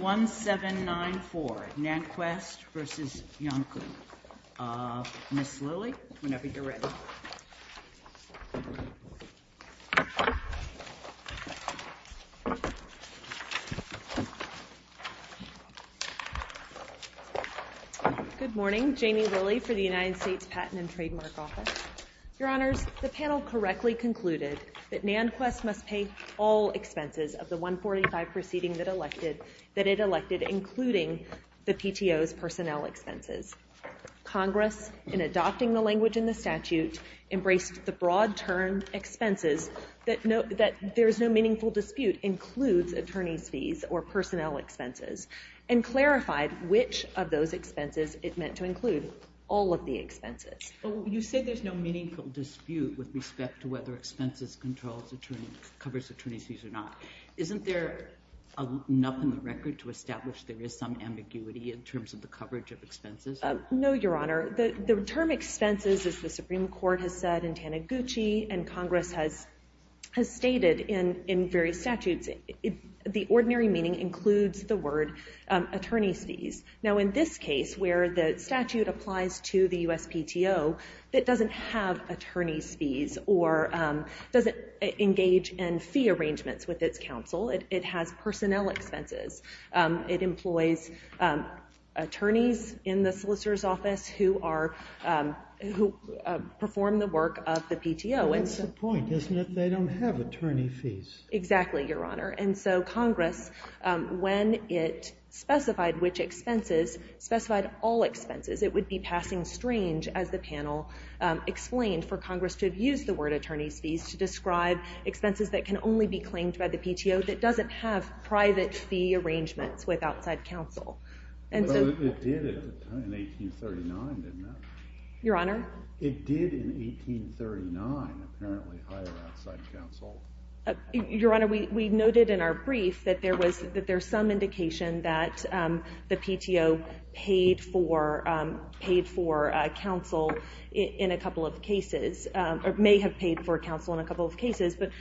1794, NantKwest v. Iancu, Ms. Lilley, whenever you're ready. Good morning, Jamie Lilley for the United States Patent and Trademark Office. Your Honors, the panel correctly concluded that NantKwest must pay all expenses of the 145 proceeding that it elected, including the PTO's personnel expenses. Congress, in adopting the language in the statute, embraced the broad term expenses that there is no meaningful dispute includes attorney's fees or personnel expenses, and clarified which of those expenses it meant to include all of the expenses. You said there's no meaningful dispute with respect to whether expenses covers attorney's fees or not. Isn't there enough in the record to establish there is some ambiguity in terms of the coverage of expenses? No, Your Honor. The term expenses, as the Supreme Court has said in Taniguchi and Congress has stated in various statutes, the ordinary meaning includes the word attorney's fees. Now, in this case, where the statute applies to the USPTO, it doesn't have attorney's fees or doesn't engage in fee arrangements with its counsel. It has personnel expenses. It employs attorneys in the solicitor's office who perform the work of the PTO. That's the point, isn't it? They don't have attorney fees. Exactly, Your Honor. And so Congress, when it specified which expenses, specified all expenses. It would be passing strange, as the panel explained, for Congress to have used the word attorney's fees to describe expenses that can only be claimed by the PTO that doesn't have private fee arrangements with outside counsel. It did in 1839, didn't it? Your Honor? It did in 1839, apparently, hire outside counsel. Your Honor, we noted in our brief that there's some indication that the PTO paid for counsel in a couple of cases, or may have paid for counsel in a couple of cases, but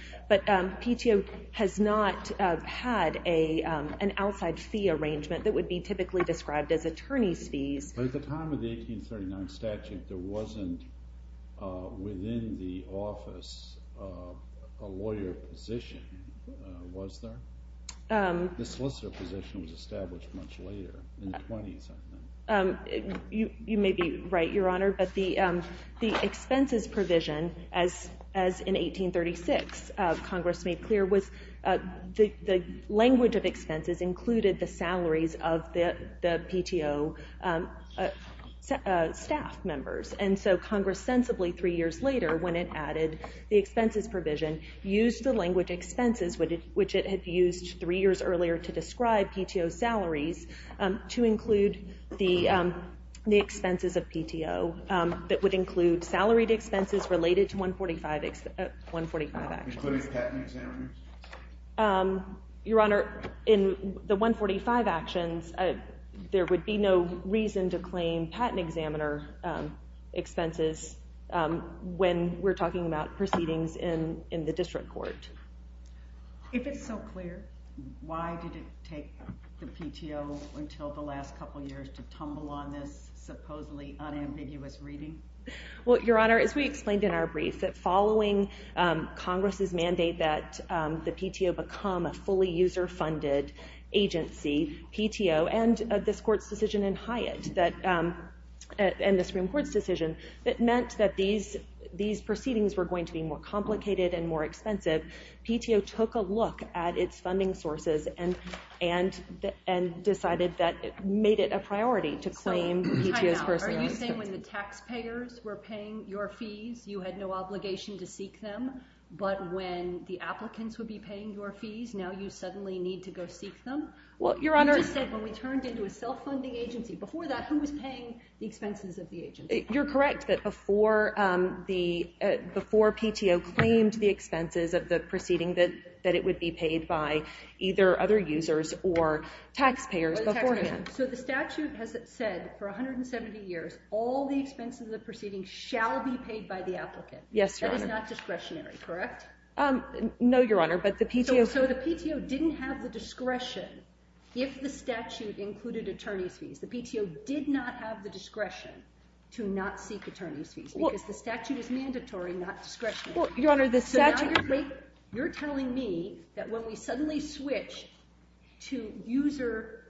PTO has not had an outside fee arrangement that would be typically described as attorney's fees. At the time of the 1839 statute, there wasn't within the office a lawyer position, was there? The solicitor position was established much later, in the 20s, I think. You may be right, Your Honor, but the expenses provision, as in 1836 Congress made clear, was the language of expenses included the salaries of the PTO staff members. And so Congress sensibly, three years later, when it added the expenses provision, used the language expenses, which it had used three years earlier, to describe PTO salaries, to include the expenses of PTO that would include salaried expenses related to 145 actions. Including patent examiners? Your Honor, in the 145 actions, there would be no reason to claim patent examiner expenses when we're talking about proceedings in the district court. If it's so clear, why did it take the PTO until the last couple of years to tumble on this supposedly unambiguous reading? Your Honor, as we explained in our brief, following Congress's mandate that the PTO become a fully user-funded agency, PTO, and this Court's decision in Hyatt, and the Supreme Court's decision, it meant that these proceedings were going to be more complicated and more expensive. PTO took a look at its funding sources and decided that it made it a priority to claim PTO's personal expenses. Are you saying when the taxpayers were paying your fees, you had no obligation to seek them, but when the applicants would be paying your fees, now you suddenly need to go seek them? Your Honor... You just said when we turned into a self-funding agency. Before that, who was paying the expenses of the agency? You're correct that before PTO claimed the expenses of the proceeding, that it would be paid by either other users or taxpayers beforehand. So the statute has said for 170 years, all the expenses of the proceeding shall be paid by the applicant. Yes, Your Honor. That is not discretionary, correct? No, Your Honor, but the PTO... So the PTO didn't have the discretion, if the statute included attorney's fees, the PTO did not have the discretion to not seek attorney's fees because the statute is mandatory, not discretionary. Your Honor, the statute... So now you're telling me that when we suddenly switched to user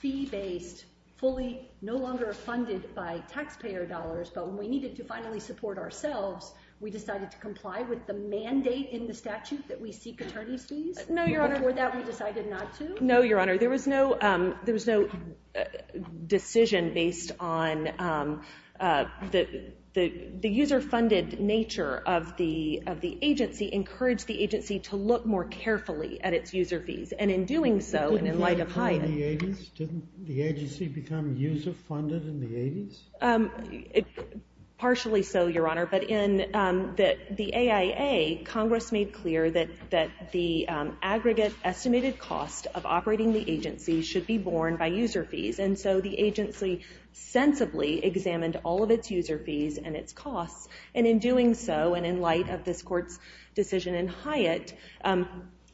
fee-based, fully, no longer funded by taxpayer dollars, but when we needed to finally support ourselves, we decided to comply with the mandate in the statute that we seek attorney's fees? No, Your Honor. Your Honor, were that we decided not to? No, Your Honor. There was no decision based on the user-funded nature of the agency encouraged the agency to look more carefully at its user fees, and in doing so, and in light of Hyatt... Didn't the agency become user-funded in the 80s? Partially so, Your Honor, but in the AIA, Congress made clear that the aggregate estimated cost of operating the agency should be borne by user fees, and so the agency sensibly examined all of its user fees and its costs, and in doing so, and in light of this Court's decision in Hyatt,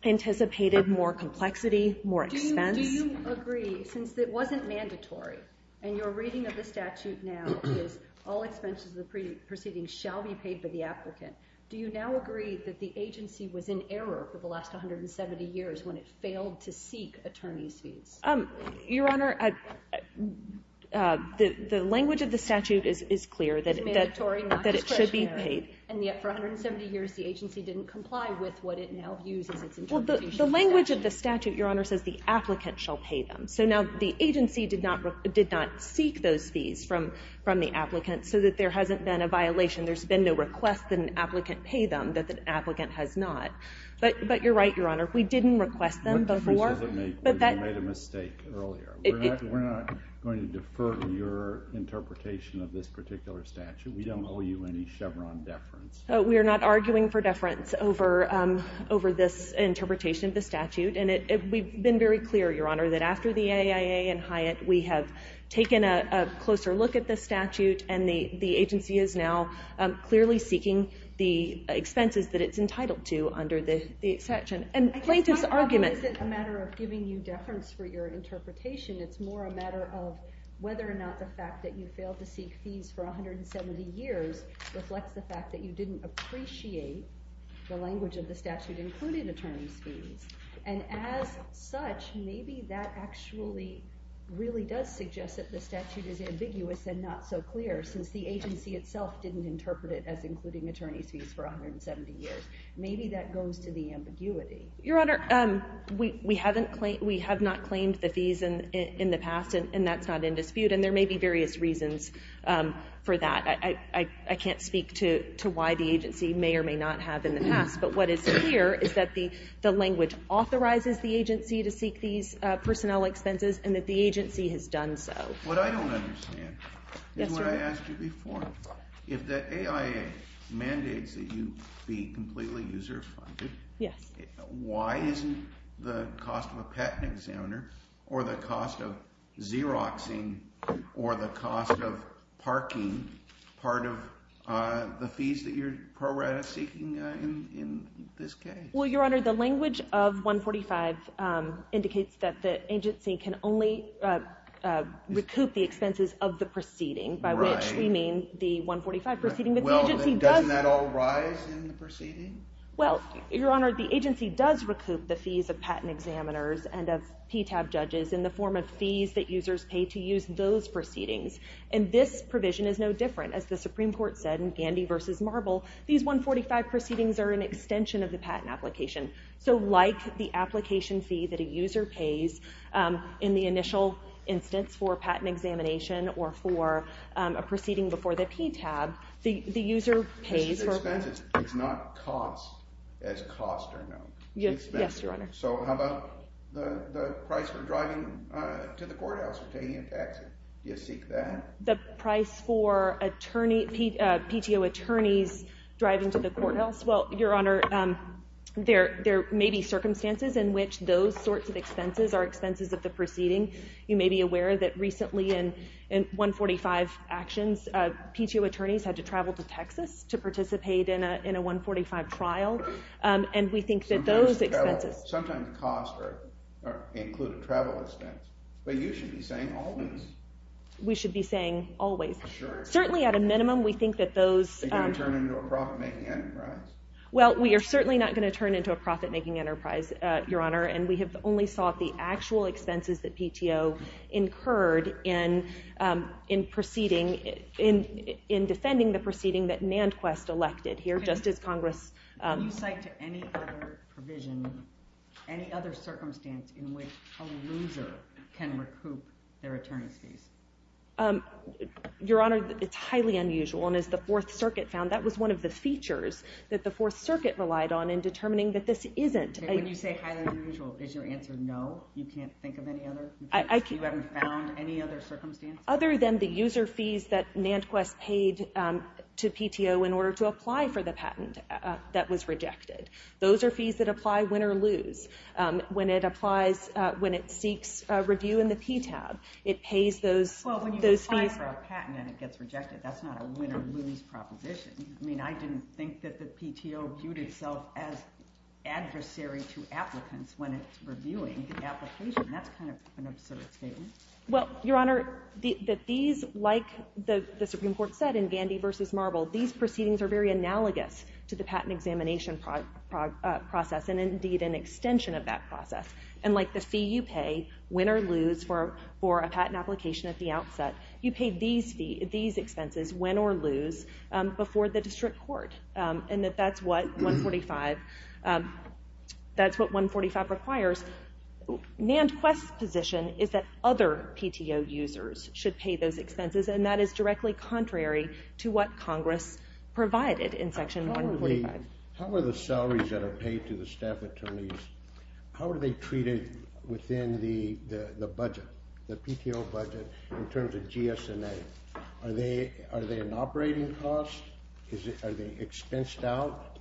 anticipated more complexity, more expense... Do you agree, since it wasn't mandatory, and your reading of the statute now is all expenses of the preceding shall be paid by the applicant, do you now agree that the agency was in error for the last 170 years when it failed to seek attorney's fees? Your Honor, the language of the statute is clear that it should be paid. And yet, for 170 years, the agency didn't comply with what it now views as its interpretation... Well, the language of the statute, Your Honor, says the applicant shall pay them, so now the agency did not seek those fees from the applicant so that there hasn't been a violation. There's been no request that an applicant pay them that the applicant has not. But you're right, Your Honor, we didn't request them before. But you made a mistake earlier. We're not going to defer your interpretation of this particular statute. We don't owe you any Chevron deference. We are not arguing for deference over this interpretation of the statute, and we've been very clear, Your Honor, that after the AIA and Hyatt, we have taken a closer look at the statute, and the agency is now clearly seeking the expenses that it's entitled to under the exception. And plaintiff's argument... I guess my problem isn't a matter of giving you deference for your interpretation. It's more a matter of whether or not the fact that you failed to seek fees for 170 years reflects the fact that you didn't appreciate the language of the statute including attorneys' fees. And as such, maybe that actually really does suggest that the statute is ambiguous and not so clear, since the agency itself didn't interpret it as including attorneys' fees for 170 years. Maybe that goes to the ambiguity. Your Honor, we have not claimed the fees in the past, and that's not in dispute, and there may be various reasons for that. I can't speak to why the agency may or may not have in the past, but what is clear is that the language authorizes the agency to seek these personnel expenses and that the agency has done so. What I don't understand is what I asked you before. If the AIA mandates that you be completely user-funded, why isn't the cost of a patent examiner or the cost of Xeroxing or the cost of parking part of the fees that you're seeking in this case? Well, Your Honor, the language of 145 indicates that the agency can only recoup the expenses of the proceeding, by which we mean the 145 proceeding. Doesn't that all rise in the proceeding? Well, Your Honor, the agency does recoup the fees of patent examiners and of PTAB judges in the form of fees that users pay to use those proceedings, and this provision is no different. As the Supreme Court said in Gandy v. Marble, these 145 proceedings are an extension of the patent application. So like the application fee that a user pays in the initial instance for a patent examination or for a proceeding before the PTAB, the user pays for... It's not cost as cost or no. Yes, Your Honor. So how about the price for driving to the courthouse or taking a taxi? The price for PTO attorneys driving to the courthouse? Well, Your Honor, there may be circumstances in which those sorts of expenses are expenses of the proceeding. You may be aware that recently in 145 actions, PTO attorneys had to travel to Texas to participate in a 145 trial, and we think that those expenses... Sometimes costs include a travel expense. But you should be saying always. We should be saying always. Certainly at a minimum, we think that those... Are they going to turn into a profit-making enterprise? Well, we are certainly not going to turn into a profit-making enterprise, Your Honor, and we have only sought the actual expenses that PTO incurred in defending the proceeding that NandQuest elected here, just as Congress... Can you cite to any other provision, any other circumstance, in which a loser can recoup their attorney's fees? Your Honor, it's highly unusual, and as the Fourth Circuit found, that was one of the features that the Fourth Circuit relied on in determining that this isn't... When you say highly unusual, is your answer no? You can't think of any other? You haven't found any other circumstances? Other than the user fees that NandQuest paid to PTO in order to apply for the patent that was rejected. Those are fees that apply win or lose. When it applies, when it seeks review in the PTAB, it pays those fees... But that's not a win or lose proposition. I mean, I didn't think that the PTO viewed itself as adversary to applicants when it's reviewing the application. That's kind of an absurd statement. Well, Your Honor, the fees, like the Supreme Court said in Vandy v. Marble, these proceedings are very analogous to the patent examination process, and indeed an extension of that process. And like the fee you pay, win or lose, for a patent application at the outset, you pay these expenses, win or lose, before the district court. And that's what 145 requires. NandQuest's position is that other PTO users should pay those expenses, and that is directly contrary to what Congress provided in Section 145. How are the salaries that are paid to the staff attorneys, how are they treated within the budget, the PTO budget, in terms of GS&A? Are they an operating cost? Are they expensed out?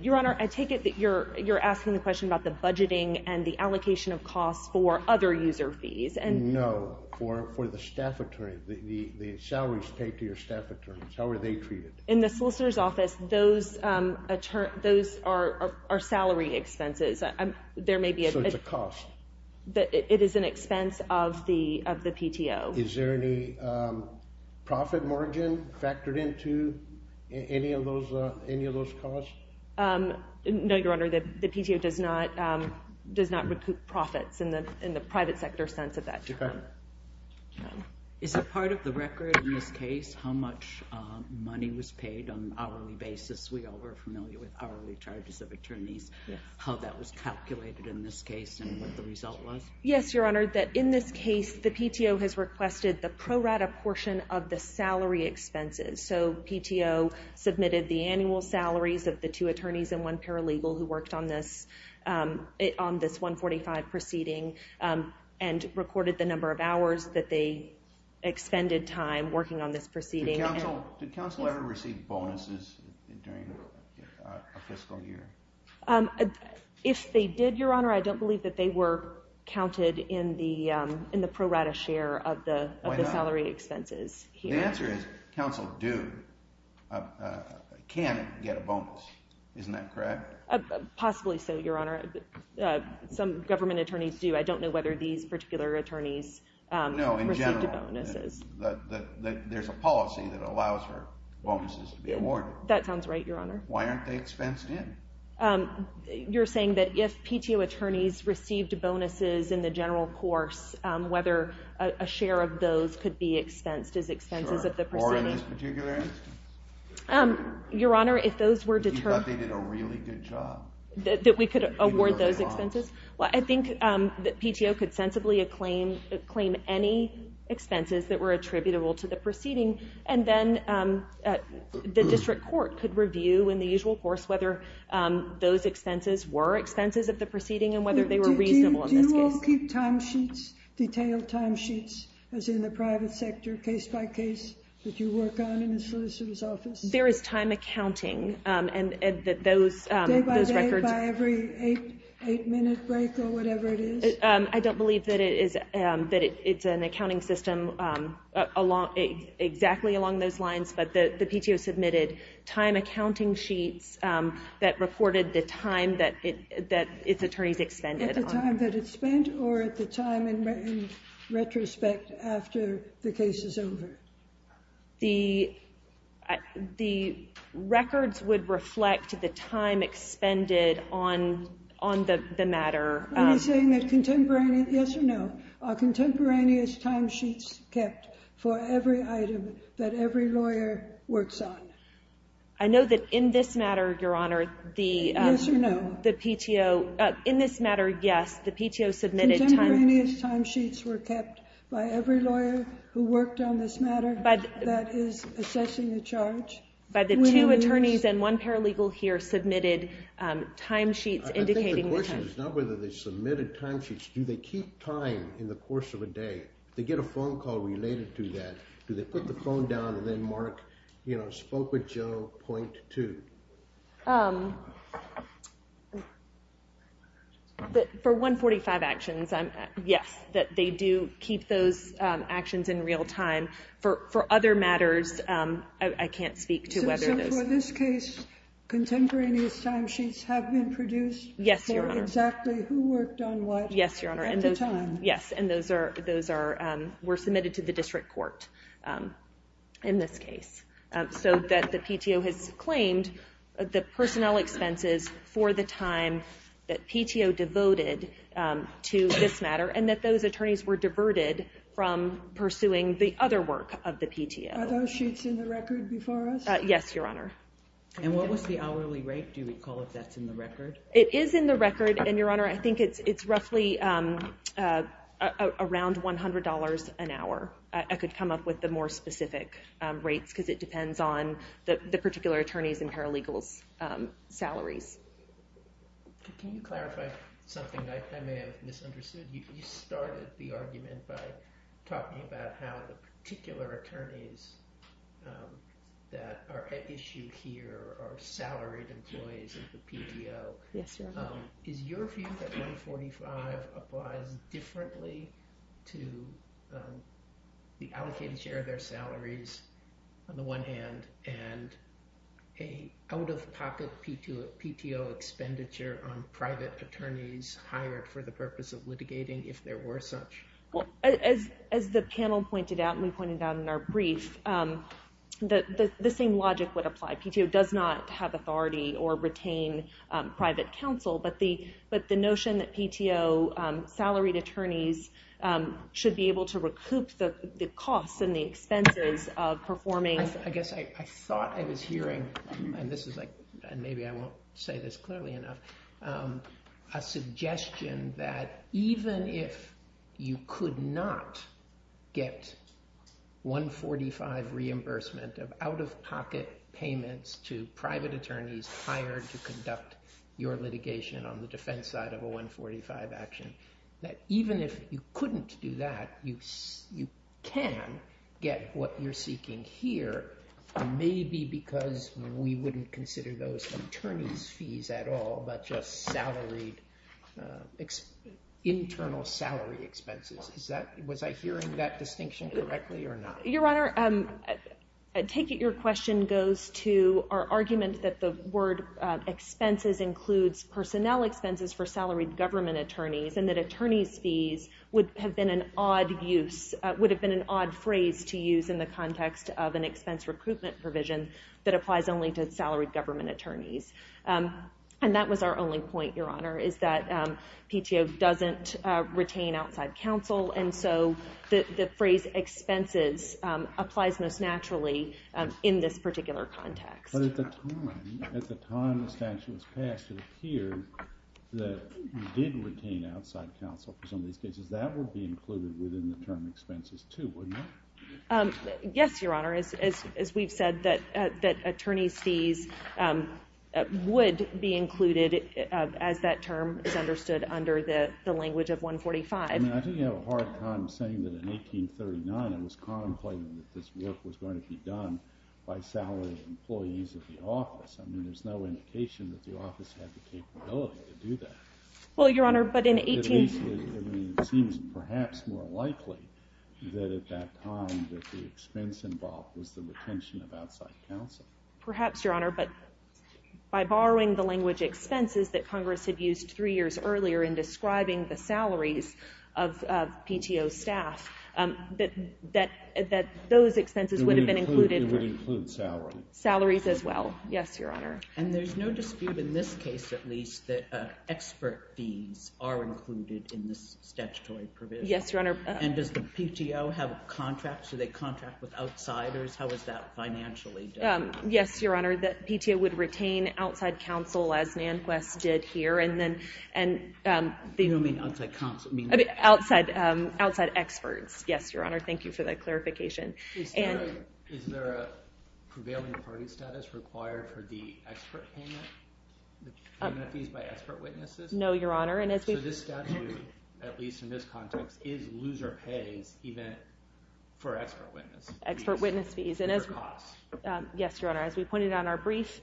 Your Honor, I take it that you're asking the question about the budgeting and the allocation of costs for other user fees. No, for the staff attorney, the salaries paid to your staff attorneys, how are they treated? In the solicitor's office, those are salary expenses. So it's a cost. It is an expense of the PTO. Is there any profit margin factored into any of those costs? No, Your Honor, the PTO does not recoup profits in the private sector sense of that term. Is it part of the record in this case how much money was paid on an hourly basis? We all are familiar with hourly charges of attorneys, how that was calculated in this case and what the result was. Yes, Your Honor, that in this case, the PTO has requested the pro rata portion of the salary expenses. So PTO submitted the annual salaries of the two attorneys and one paralegal who worked on this 145 proceeding and recorded the number of hours that they expended time working on this proceeding. Did counsel ever receive bonuses during a fiscal year? If they did, Your Honor, I don't believe that they were counted in the pro rata share of the salary expenses here. The answer is counsel do, can get a bonus. Isn't that correct? Possibly so, Your Honor. Some government attorneys do. I don't know whether these particular attorneys received bonuses. No, in general, there's a policy that allows for bonuses to be awarded. That sounds right, Your Honor. Why aren't they expensed in? You're saying that if PTO attorneys received bonuses in the general course, whether a share of those could be expensed as expenses of the proceeding? Or in this particular instance? Your Honor, if those were determined... You thought they did a really good job? That we could award those expenses? Well, I think that PTO could sensibly claim any expenses that were attributable to the proceeding and then the district court could review in the usual course whether those expenses were expenses of the proceeding and whether they were reasonable in this case. Do you all keep timesheets, detailed timesheets, as in the private sector, case by case, that you work on in the solicitor's office? There is time accounting, and those records... Day by day, by every eight-minute break or whatever it is? I don't believe that it's an accounting system exactly along those lines, but the PTO submitted time accounting sheets that reported the time that its attorneys expended. At the time that it spent, or at the time in retrospect after the case is over? The records would reflect the time expended on the matter. Are you saying that contemporaneous... Yes or no, are contemporaneous timesheets kept for every item that every lawyer works on? I know that in this matter, Your Honor, the PTO... Yes or no? In this matter, yes, the PTO submitted... Contemporaneous timesheets were kept by every lawyer who worked on this matter that is assessing the charge? By the two attorneys and one paralegal here submitted timesheets indicating the time. I think the question is not whether they submitted timesheets. Do they keep time in the course of a day? If they get a phone call related to that, do they put the phone down and then mark, you know, spoke with Joe, point two? For 145 actions, yes, that they do keep those actions in real time. For other matters, I can't speak to whether those... So for this case, contemporaneous timesheets have been produced... Yes, Your Honor. ...for exactly who worked on what at the time? Yes, and those were submitted to the district court in this case, so that the PTO has claimed the personnel expenses for the time that PTO devoted to this matter and that those attorneys were diverted from pursuing the other work of the PTO. Are those sheets in the record before us? Yes, Your Honor. And what was the hourly rate, do you recall, if that's in the record? It is in the record, and, Your Honor, I think it's roughly around $100 an hour. I could come up with the more specific rates because it depends on the particular attorneys and paralegals' salaries. Can you clarify something I may have misunderstood? You started the argument by talking about how the particular attorneys that are at issue here are salaried employees of the PTO. Yes, Your Honor. Is your view that 145 applies differently to the allocated share of their salaries, on the one hand, and an out-of-pocket PTO expenditure on private attorneys hired for the purpose of litigating, if there were such? As the panel pointed out, and we pointed out in our brief, the same logic would apply. PTO does not have authority or retain private counsel, but the notion that PTO salaried attorneys should be able to recoup the costs and the expenses of performing... I guess I thought I was hearing, and maybe I won't say this clearly enough, a suggestion that even if you could not get 145 reimbursement of out-of-pocket payments to private attorneys hired to conduct your litigation on the defense side of a 145 action, that even if you couldn't do that, you can get what you're seeking here, maybe because we wouldn't consider those attorney's fees at all, but just internal salary expenses. Was I hearing that distinction correctly or not? Your Honor, I take it your question goes to our argument that the word expenses includes personnel expenses for salaried government attorneys, and that attorney's fees would have been an odd phrase to use in the context of an expense recruitment provision that applies only to salaried government attorneys. And that was our only point, Your Honor, is that PTO doesn't retain outside counsel, and so the phrase expenses applies most naturally in this particular context. But at the time the statute was passed, it appeared that you did retain outside counsel for some of these cases. That would be included within the term expenses, too, wouldn't it? Yes, Your Honor, as we've said, that attorney's fees would be included as that term is understood under the language of 145. I think you have a hard time saying that in 1839 it was contemplated that this work was going to be done by salaried employees of the office. I mean, there's no indication that the office had the capability to do that. Well, Your Honor, but in 18... It seems perhaps more likely that at that time that the expense involved was the retention of outside counsel. Perhaps, Your Honor, but by borrowing the language expenses that Congress had used three years earlier in describing the salaries of PTO staff, that those expenses would have been included... It would include salary. Salaries as well, yes, Your Honor. And there's no dispute in this case, at least, that expert fees are included in this statutory provision. Yes, Your Honor. And does the PTO have a contract? Do they contract with outsiders? How is that financially done? Yes, Your Honor, the PTO would retain outside counsel, as Nanquist did here, and then... You don't mean outside counsel, you mean... Outside experts, yes, Your Honor. Thank you for that clarification. Is there a prevailing party status required for the expert payment? Payment fees by expert witnesses? No, Your Honor, and as we... So this statute, at least in this context, is loser pays even for expert witness. Expert witness fees. For costs. Yes, Your Honor, as we pointed out in our brief,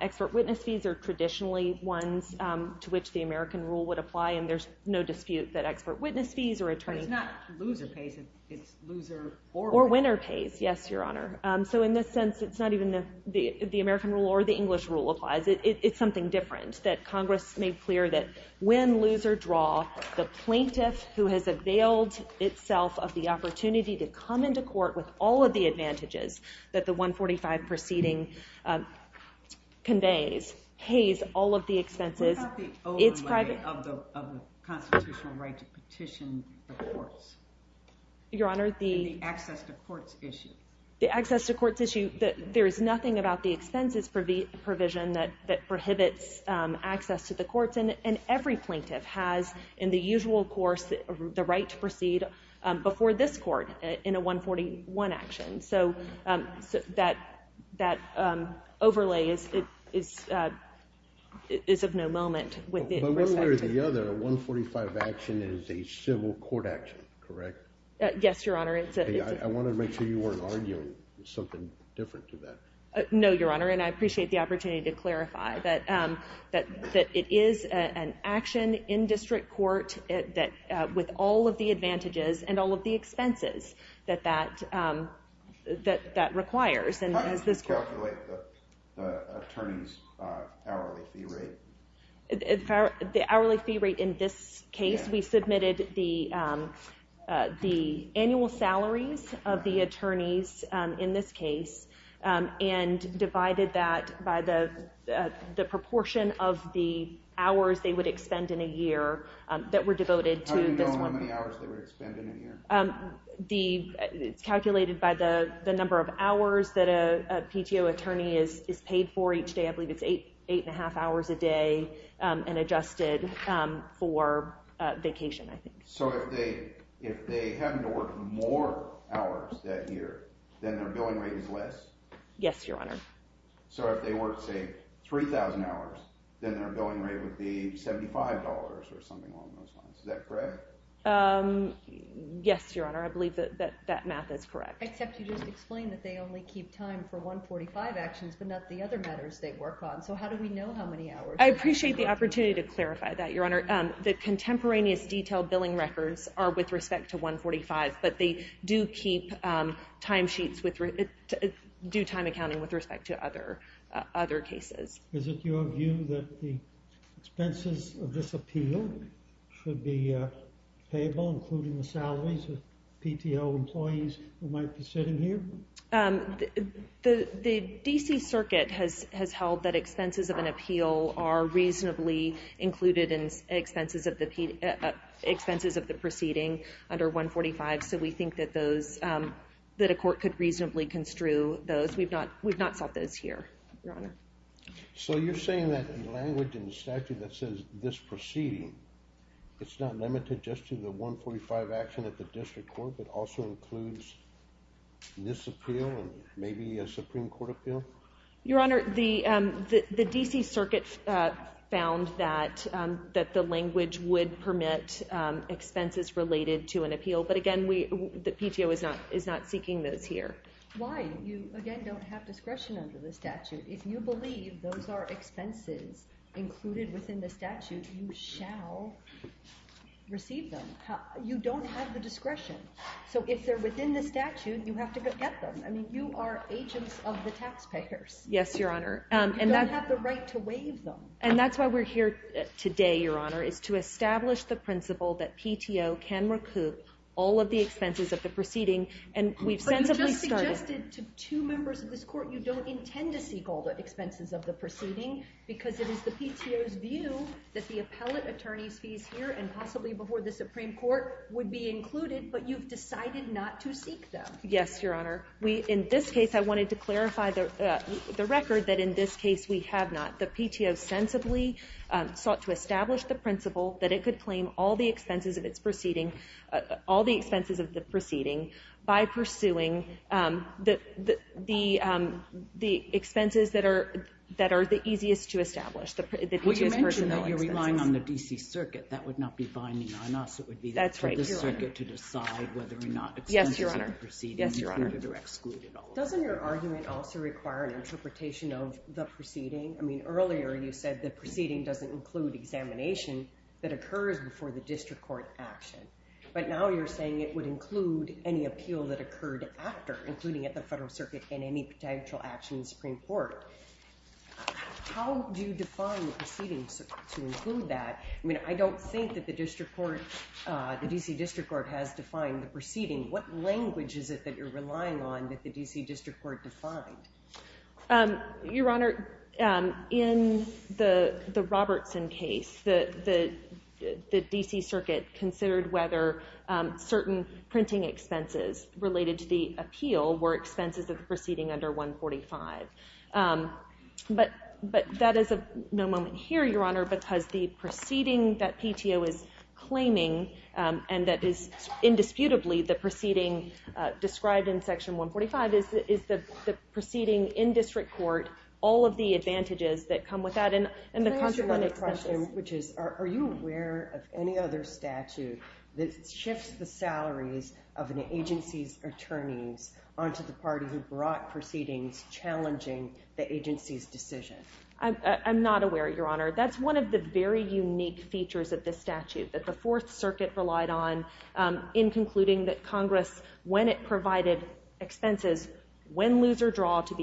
expert witness fees are traditionally ones to which the American rule would apply, and there's no dispute that expert witness fees or attorney... But it's not loser pays, it's loser... Or winner pays, yes, Your Honor. So in this sense, it's not even the American rule or the English rule applies. It's something different. That Congress made clear that when loser draw, the plaintiff who has availed itself of the opportunity to come into court with all of the advantages that the 145 proceeding conveys, pays all of the expenses... What about the overlay of the constitutional right to petition the courts? Your Honor, the... And the access to courts issue. The access to courts issue, there is nothing about the expenses provision that prohibits access to the courts, and every plaintiff has, in the usual course, the right to proceed before this court in a 141 action. So that overlay is of no moment with respect to... But one way or the other, a 145 action is a civil court action, correct? Yes, Your Honor. I wanted to make sure you weren't arguing something different to that. No, Your Honor, and I appreciate the opportunity to clarify that it is an action in district court with all of the advantages and all of the expenses that that requires. How did you calculate the attorney's hourly fee rate? The hourly fee rate in this case, we submitted the annual salaries of the attorneys in this case and divided that by the proportion of the hours they would expend in a year that were devoted to this one... How do you know how many hours they would expend in a year? It's calculated by the number of hours that a PTO attorney is paid for each day. I believe it's 8.5 hours a day and adjusted for vacation, I think. So if they happen to work more hours that year, then their billing rate is less? Yes, Your Honor. So if they work, say, 3,000 hours, then their billing rate would be $75 or something along those lines. Is that correct? Yes, Your Honor. I believe that that math is correct. Except you just explained that they only keep time for 145 actions, but not the other matters they work on. So how do we know how many hours... I appreciate the opportunity to clarify that, Your Honor. The contemporaneous detailed billing records are with respect to 145, but they do keep time sheets with... do time accounting with respect to other cases. Is it your view that the expenses of this appeal should be payable, including the salaries of PTO employees who might be sitting here? The D.C. Circuit has held that expenses of an appeal are reasonably included in expenses of the proceeding under 145, so we think that those... that a court could reasonably construe those. We've not sought those here, Your Honor. So you're saying that in language in the statute that says, this proceeding, it's not limited just to the 145 action at the district court, but also includes this appeal and maybe a Supreme Court appeal? Your Honor, the D.C. Circuit found that the language would permit expenses related to an appeal, but again, the PTO is not seeking those here. Why? You, again, don't have discretion under the statute. If you believe those are expenses included within the statute, you shall receive them. You don't have the discretion. So if they're within the statute, you have to get them. I mean, you are agents of the taxpayers. Yes, Your Honor. You don't have the right to waive them. And that's why we're here today, Your Honor, is to establish the principle that PTO can recoup all of the expenses of the proceeding, and we've sensibly started... But you just suggested to two members of this court you don't intend to seek all the expenses of the proceeding because it is the PTO's view that the appellate attorney's fees here and possibly before the Supreme Court would be included, but you've decided not to seek them. Yes, Your Honor. We, in this case, I wanted to clarify the record that in this case we have not. The PTO sensibly sought to establish the principle that it could claim all the expenses of its proceeding, all the expenses of the proceeding, by pursuing the expenses that are the easiest to establish. Well, you mentioned that you're relying on the D.C. Circuit. That would not be binding on us. That's right, Your Honor. It would be for the Circuit to decide whether or not excluding the proceeding included or excluded. Yes, Your Honor. Doesn't your argument also require an interpretation of the proceeding? I mean, earlier you said the proceeding doesn't include examination that occurs before the district court action, but now you're saying it would include any appeal that occurred after, including at the federal circuit and any potential action in the Supreme Court. How do you define the proceeding to include that? I mean, I don't think that the district court, the D.C. District Court, has defined the proceeding. What language is it that you're relying on that the D.C. District Court defined? Your Honor, in the Robertson case, the D.C. Circuit considered whether certain printing expenses related to the appeal were expenses of the proceeding under 145. But that is of no moment here, Your Honor, because the proceeding that PTO is claiming and that is indisputably the proceeding described in Section 145 is the proceeding in district court, all of the advantages that come with that and the consequences. Can I ask you another question, which is, are you aware of any other statute that shifts the salaries of an agency's attorneys onto the party who brought proceedings challenging the agency's decision? I'm not aware, Your Honor. That's one of the very unique features of this statute that the Fourth Circuit relied on in concluding that Congress, when it provided expenses, win, lose, or draw to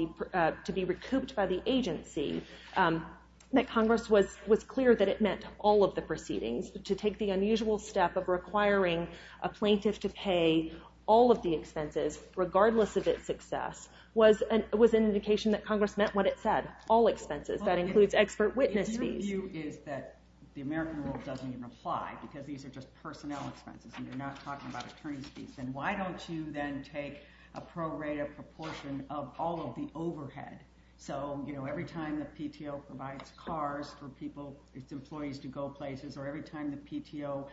be recouped by the agency, that Congress was clear that it meant all of the proceedings. To take the unusual step of requiring a plaintiff to pay all of the expenses, regardless of its success, was an indication that Congress meant what it said, all expenses. That includes expert witness fees. Your view is that the American rule doesn't even apply because these are just personnel expenses and you're not talking about attorney's fees. Then why don't you then take a prorated proportion of all of the overhead? So, you know, every time the PTO provides cars for people, its employees to go places, or every time the PTO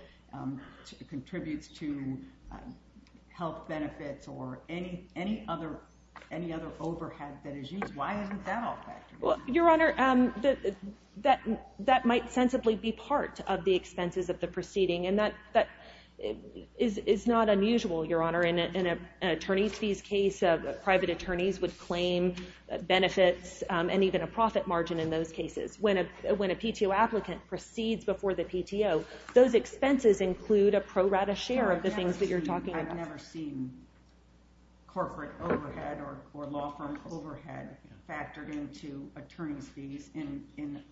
contributes to health benefits or any other overhead that is used, why isn't that all factor? Your Honor, that might sensibly be part of the expenses of the proceeding, and that is not unusual, Your Honor. In an attorney's fees case, private attorneys would claim benefits and even a profit margin in those cases. When a PTO applicant proceeds before the PTO, those expenses include a prorated share of the things that you're talking about. But I've never seen corporate overhead or law firm overhead factored into attorney's fees in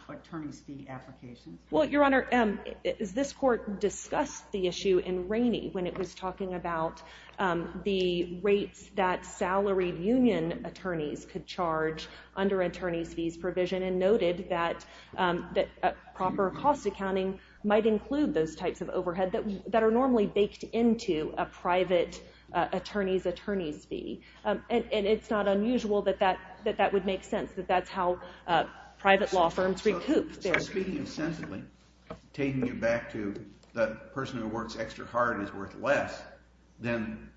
attorney's fee applications. Well, Your Honor, this court discussed the issue in Rainey when it was talking about the rates that salaried union attorneys could charge under attorney's fees provision and noted that proper cost accounting might include those types of overhead that are normally baked into a private attorney's attorney's fee. And it's not unusual that that would make sense, that that's how private law firms recoup their fees. So speaking sensibly, taking it back to the person who works extra hard is worth less than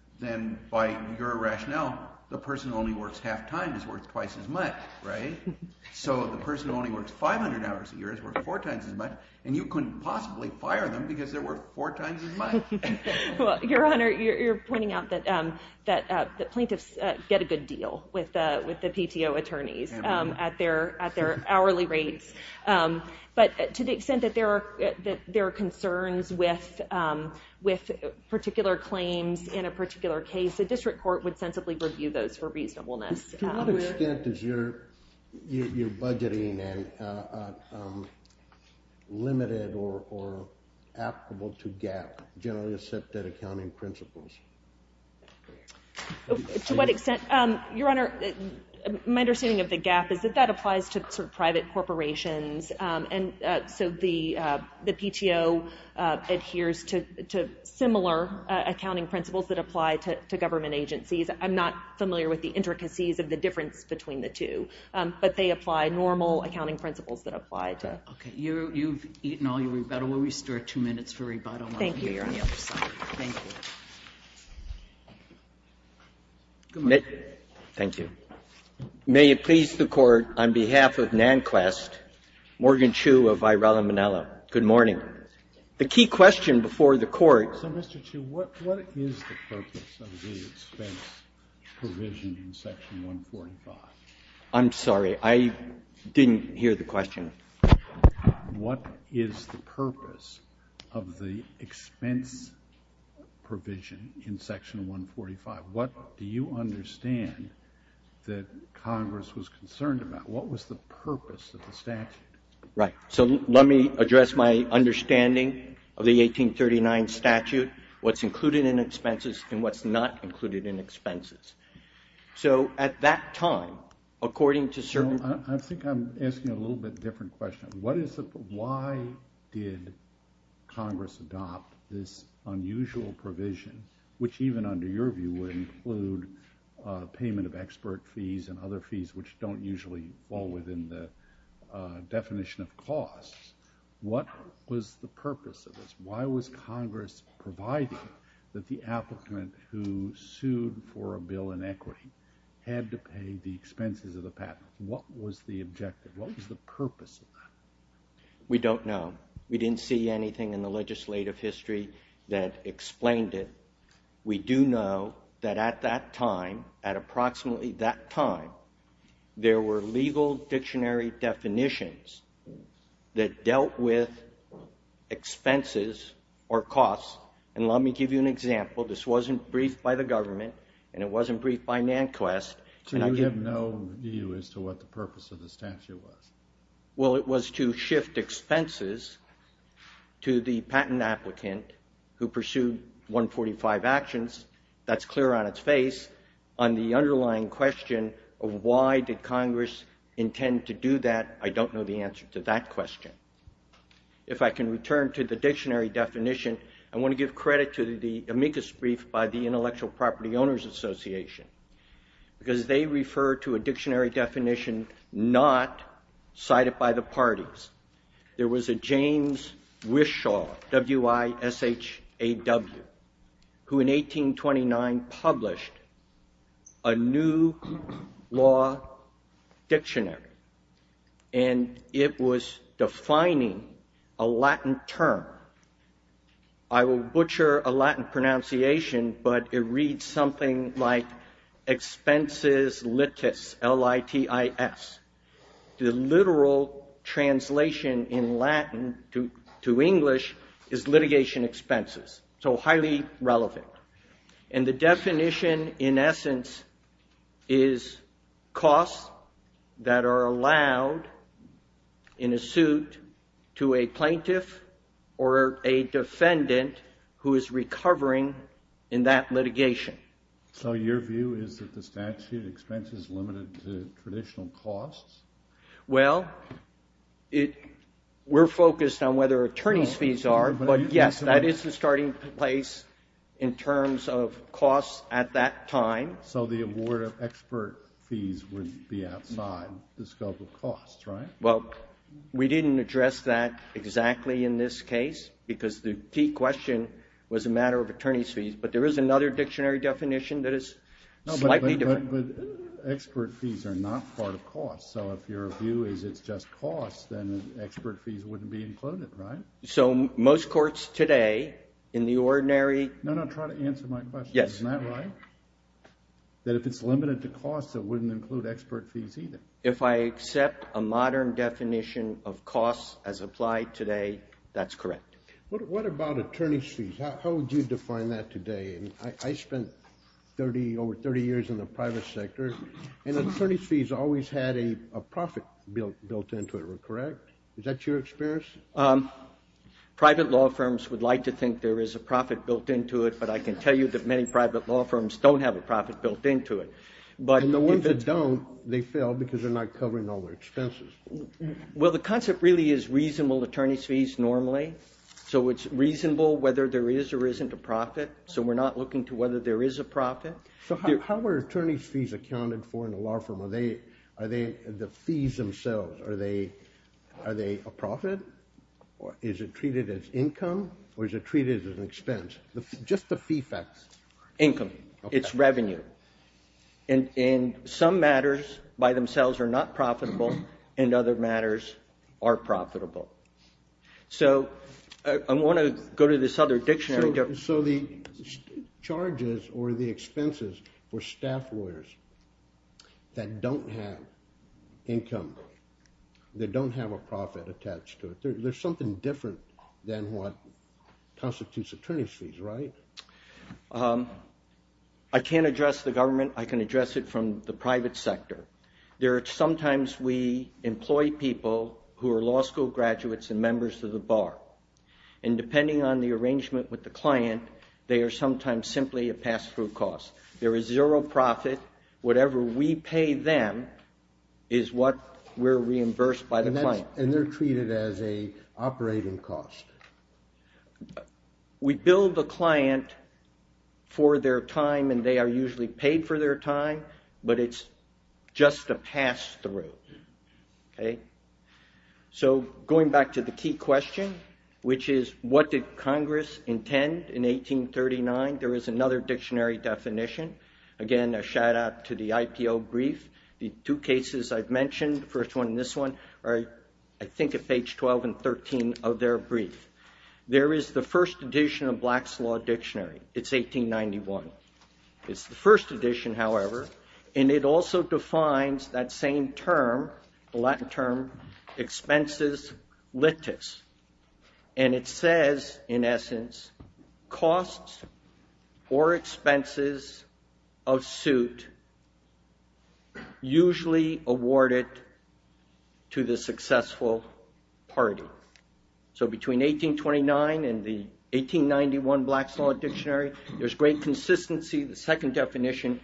by your rationale the person who only works half-time is worth twice as much, right? So the person who only works 500 hours a year is worth four times as much, and you couldn't possibly fire them because they're worth four times as much. Well, Your Honor, you're pointing out that plaintiffs get a good deal with the PTO attorneys at their hourly rates. But to the extent that there are concerns with particular claims in a particular case, the district court would sensibly review those for reasonableness. To what extent is your budgeting limited or applicable to GAAP, generally accepted accounting principles? To what extent? Your Honor, my understanding of the GAAP is that that applies to private corporations, and so the PTO adheres to similar accounting principles that apply to government agencies. I'm not familiar with the intricacies of the difference between the two, but they apply normal accounting principles that apply to... Okay, you've eaten all your rebuttal. We'll restore two minutes for rebuttal while we're here on the other side. Thank you. Thank you. Good morning. Thank you. May it please the Court, on behalf of Nanquist, Morgan Chu of Varela Manela, good morning. The key question before the Court... So, Mr. Chu, what is the purpose of the expense provision in Section 145? I'm sorry. I didn't hear the question. What is the purpose of the expense provision in Section 145? What do you understand that Congress was concerned about? What was the purpose of the statute? Right, so let me address my understanding of the 1839 statute, what's included in expenses and what's not included in expenses. So, at that time, according to certain... I think I'm asking a little bit different question. Why did Congress adopt this unusual provision, which even under your view would include payment of expert fees and other fees which don't usually fall within the definition of costs? What was the purpose of this? Why was Congress providing that the applicant who sued for a bill in equity had to pay the expenses of the patent? What was the objective? What was the purpose of that? We don't know. We didn't see anything in the legislative history that explained it. We do know that at that time, at approximately that time, there were legal dictionary definitions that dealt with expenses or costs. And let me give you an example. This wasn't briefed by the government and it wasn't briefed by Nanquist. So you have no view as to what the purpose of the statute was. Well, it was to shift expenses to the patent applicant who pursued 145 actions. That's clear on its face. On the underlying question of why did Congress intend to do that, I don't know the answer to that question. If I can return to the dictionary definition, I want to give credit to the amicus brief by the Intellectual Property Owners Association because they refer to a dictionary definition not cited by the parties. There was a James Wishaw, W-I-S-H-A-W, who in 1829 published a new law dictionary and it was defining a Latin term. I will butcher a Latin pronunciation but it reads something like expenses litis, L-I-T-I-S. The literal translation in Latin to English is litigation expenses. So highly relevant. And the definition in essence is costs that are allowed in a suit to a plaintiff or a defendant who is recovering in that litigation. So your view is that the statute expenses limited to traditional costs? Well, we're focused on whether attorney's fees are, but yes, that is the starting place in terms of costs at that time. So the award of expert fees would be outside the scope of costs, right? Well, we didn't address that exactly in this case because the key question was a matter of attorney's fees, but there is another dictionary definition that is slightly different. But expert fees are not part of costs. So if your view is it's just costs, then expert fees wouldn't be included, right? So most courts today in the ordinary... No, no, try to answer my question. Yes. Isn't that right? That if it's limited to costs, it wouldn't include expert fees either. If I accept a modern definition of costs as applied today, that's correct. What about attorney's fees? How would you define that today? I spent over 30 years in the private sector, and attorney's fees always had a profit built into it, correct? Is that your experience? Private law firms would like to think there is a profit built into it, but I can tell you that many private law firms don't have a profit built into it. And the ones that don't, they fail because they're not covering all their expenses. Well, the concept really is reasonable attorney's fees normally. So it's reasonable whether there is or isn't a profit. So we're not looking to whether there is a profit. So how are attorney's fees accounted for in a law firm? Are they the fees themselves? Are they a profit? Is it treated as income? Or is it treated as an expense? Just the fee facts. Income. It's revenue. And some matters by themselves are not profitable, and other matters are profitable. So I want to go to this other dictionary. So the charges or the expenses for staff lawyers that don't have income, that don't have a profit attached to it, there's something different than what constitutes attorney's fees, right? I can't address the government. I can address it from the private sector. Sometimes we employ people who are law school graduates and members of the bar. And depending on the arrangement with the client, they are sometimes simply a pass-through cost. There is zero profit. Whatever we pay them is what we're reimbursed by the client. And they're treated as an operating cost. We bill the client for their time, and they are usually paid for their time, but it's just a pass-through. Okay? So going back to the key question, which is, what did Congress intend in 1839? There is another dictionary definition. Again, a shout-out to the IPO brief. The two cases I've mentioned, the first one and this one, are I think at page 12 and 13 of their brief. There is the first edition of Black's Law Dictionary. It's 1891. It's the first edition, however, and it also defines that same term, the Latin term, expenses litis. And it says, in essence, costs or expenses of suit usually awarded to the successful party. So between 1829 and the 1891 Black's Law Dictionary, there's great consistency. The second definition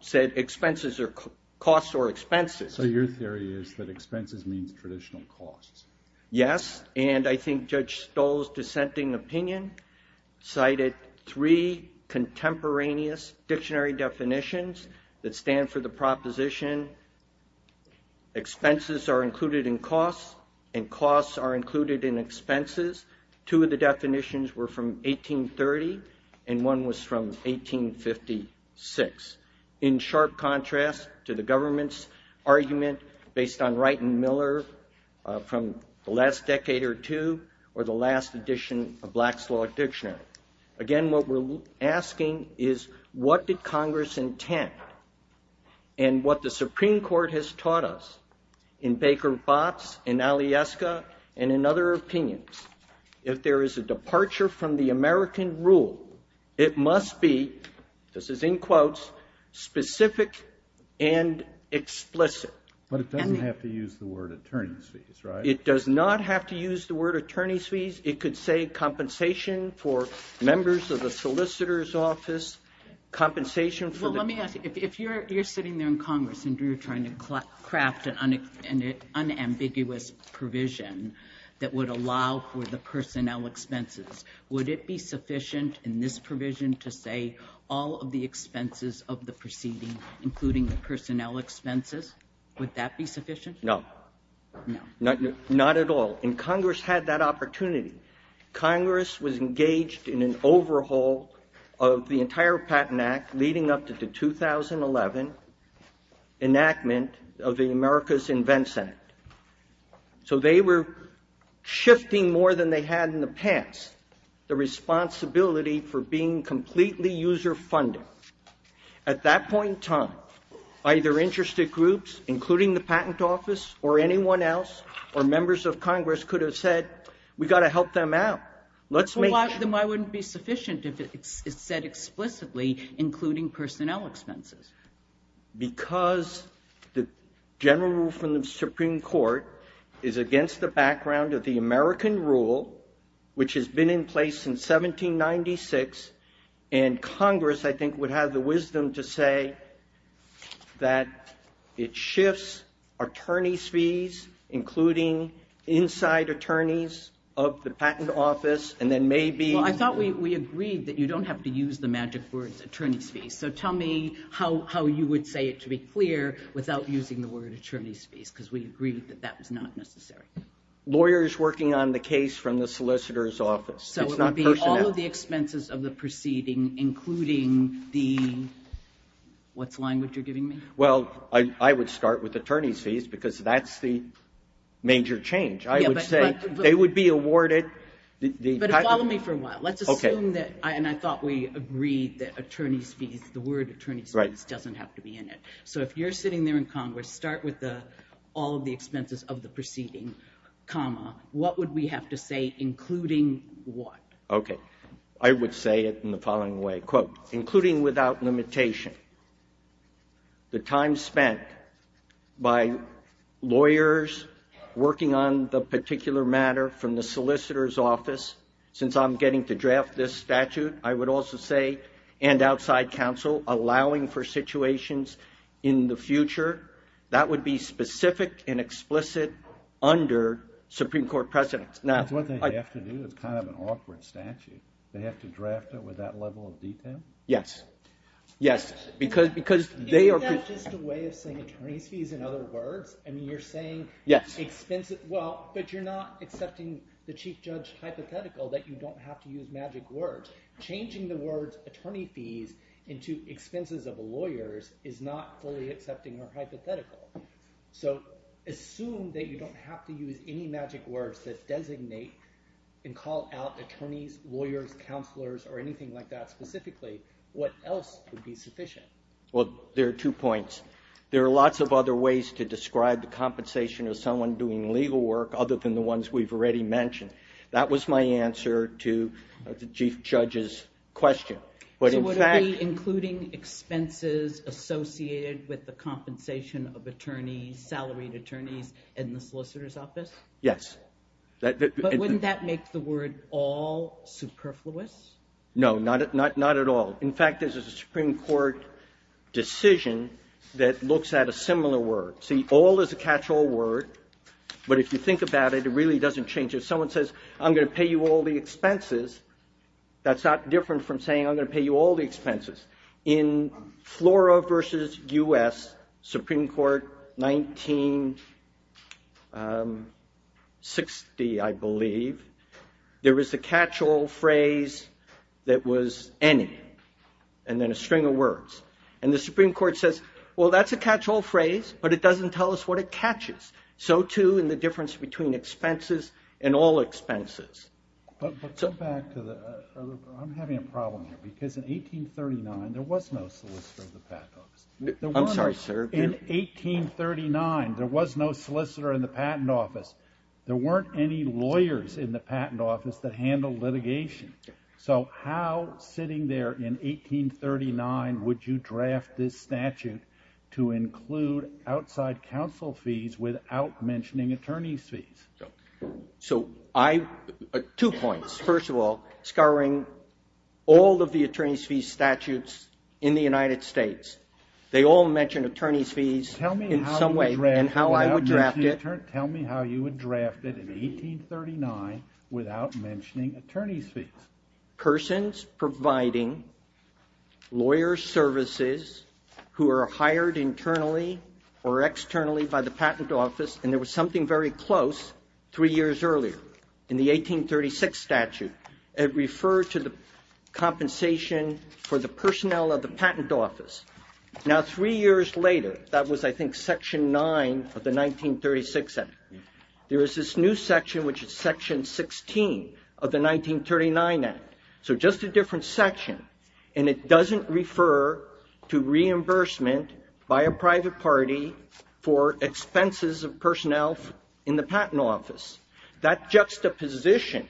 said expenses or costs or expenses. So your theory is that expenses means traditional costs. Yes, and I think Judge Stoll's dissenting opinion cited three contemporaneous dictionary definitions that stand for the proposition expenses are included in costs, and costs are included in expenses. Two of the definitions were from 1830 and one was from 1856. In sharp contrast to the government's argument based on Wright and Miller from the last decade or two or the last edition of Black's Law Dictionary. Again, what we're asking is what did Congress intend? And what the Supreme Court has taught us in Baker-Botz, in Alyeska, and in other opinions, if there is a departure from the American rule, it must be, this is in quotes, specific and explicit. But it doesn't have to use the word attorney's fees, right? It does not have to use the word attorney's fees. It could say compensation for members of the solicitor's office, compensation for the ---- Well, let me ask you. If you're sitting there in Congress and you're trying to craft an unambiguous provision that would allow for the personnel expenses, would it be sufficient in this provision to say all of the expenses of the proceeding, including the personnel expenses? Would that be sufficient? No. No. Not at all. And Congress had that opportunity. Congress was engaged in an overhaul of the entire Patent Act leading up to the 2011 enactment of the America's Invent Senate. So they were shifting more than they had in the past the responsibility for being completely user-funded. At that point in time, either interested groups, including the Patent Office, or anyone else, or members of Congress could have said, we've got to help them out. Well, why wouldn't it be sufficient if it's said explicitly, including personnel expenses? Because the general rule from the Supreme Court is against the background of the American rule, which has been in place since 1796, and Congress, I think, would have the wisdom to say that it shifts attorneys' fees, including inside attorneys of the Patent Office, and then maybe... Well, I thought we agreed that you don't have to use the magic words, attorneys' fees. So tell me how you would say it to be clear without using the word attorneys' fees, because we agreed that that was not necessary. Lawyers working on the case from the solicitor's office. So it would be all of the expenses of the proceeding, including the... What's the language you're giving me? Well, I would start with attorneys' fees, because that's the major change. I would say they would be awarded... But follow me for a while. Let's assume that, and I thought we agreed, that attorneys' fees, the word attorneys' fees, doesn't have to be in it. So if you're sitting there in Congress, start with all of the expenses of the proceeding, comma. What would we have to say, including what? Okay. I would say it in the following way. Quote, including without limitation the time spent by lawyers working on the particular matter from the solicitor's office, since I'm getting to draft this statute, I would also say, and outside counsel, allowing for situations in the future. That would be specific and explicit under Supreme Court precedence. That's one thing they have to do. It's kind of an awkward statute. They have to draft it with that level of detail? Yes. Yes, because they are... Isn't that just a way of saying attorneys' fees in other words? I mean, you're saying... Yes. Well, but you're not accepting the chief judge hypothetical that you don't have to use magic words. Changing the words attorney fees into expenses of lawyers is not fully accepting or hypothetical. So assume that you don't have to use any magic words that designate and call out attorneys, lawyers, counselors, or anything like that specifically. What else would be sufficient? Well, there are two points. There are lots of other ways to describe the compensation of someone doing legal work other than the ones we've already mentioned. That was my answer to the chief judge's question. So would it be including expenses associated with the compensation of attorneys, salaried attorneys, in the solicitor's office? Yes. But wouldn't that make the word all superfluous? No, not at all. In fact, there's a Supreme Court decision that looks at a similar word. See, all is a catch-all word, but if you think about it, it really doesn't change it. If someone says, I'm going to pay you all the expenses, that's not different from saying, I'm going to pay you all the expenses. In Flora v. U.S., Supreme Court 1960, I believe, there was a catch-all phrase that was any, and then a string of words. And the Supreme Court says, well, that's a catch-all phrase, but it doesn't tell us what it catches. So, too, in the difference between expenses and all expenses. But back to the... I'm having a problem here, because in 1839, there was no solicitor in the patent office. I'm sorry, sir. In 1839, there was no solicitor in the patent office. There weren't any lawyers in the patent office that handled litigation. So how, sitting there in 1839, would you draft this statute to include outside counsel fees without mentioning attorney's fees? So, two points. First of all, scouring all of the attorney's fees statutes in the United States, they all mention attorney's fees in some way, and how I would draft it. So, attorney, tell me how you would draft it in 1839 without mentioning attorney's fees. Persons providing lawyer services who are hired internally or externally by the patent office, and there was something very close three years earlier, in the 1836 statute. It referred to the compensation for the personnel of the patent office. Now, three years later, that was, I think, Section 9 of the 1936 Act. There is this new section, which is Section 16 of the 1939 Act. So just a different section, and it doesn't refer to reimbursement by a private party for expenses of personnel in the patent office. That juxtaposition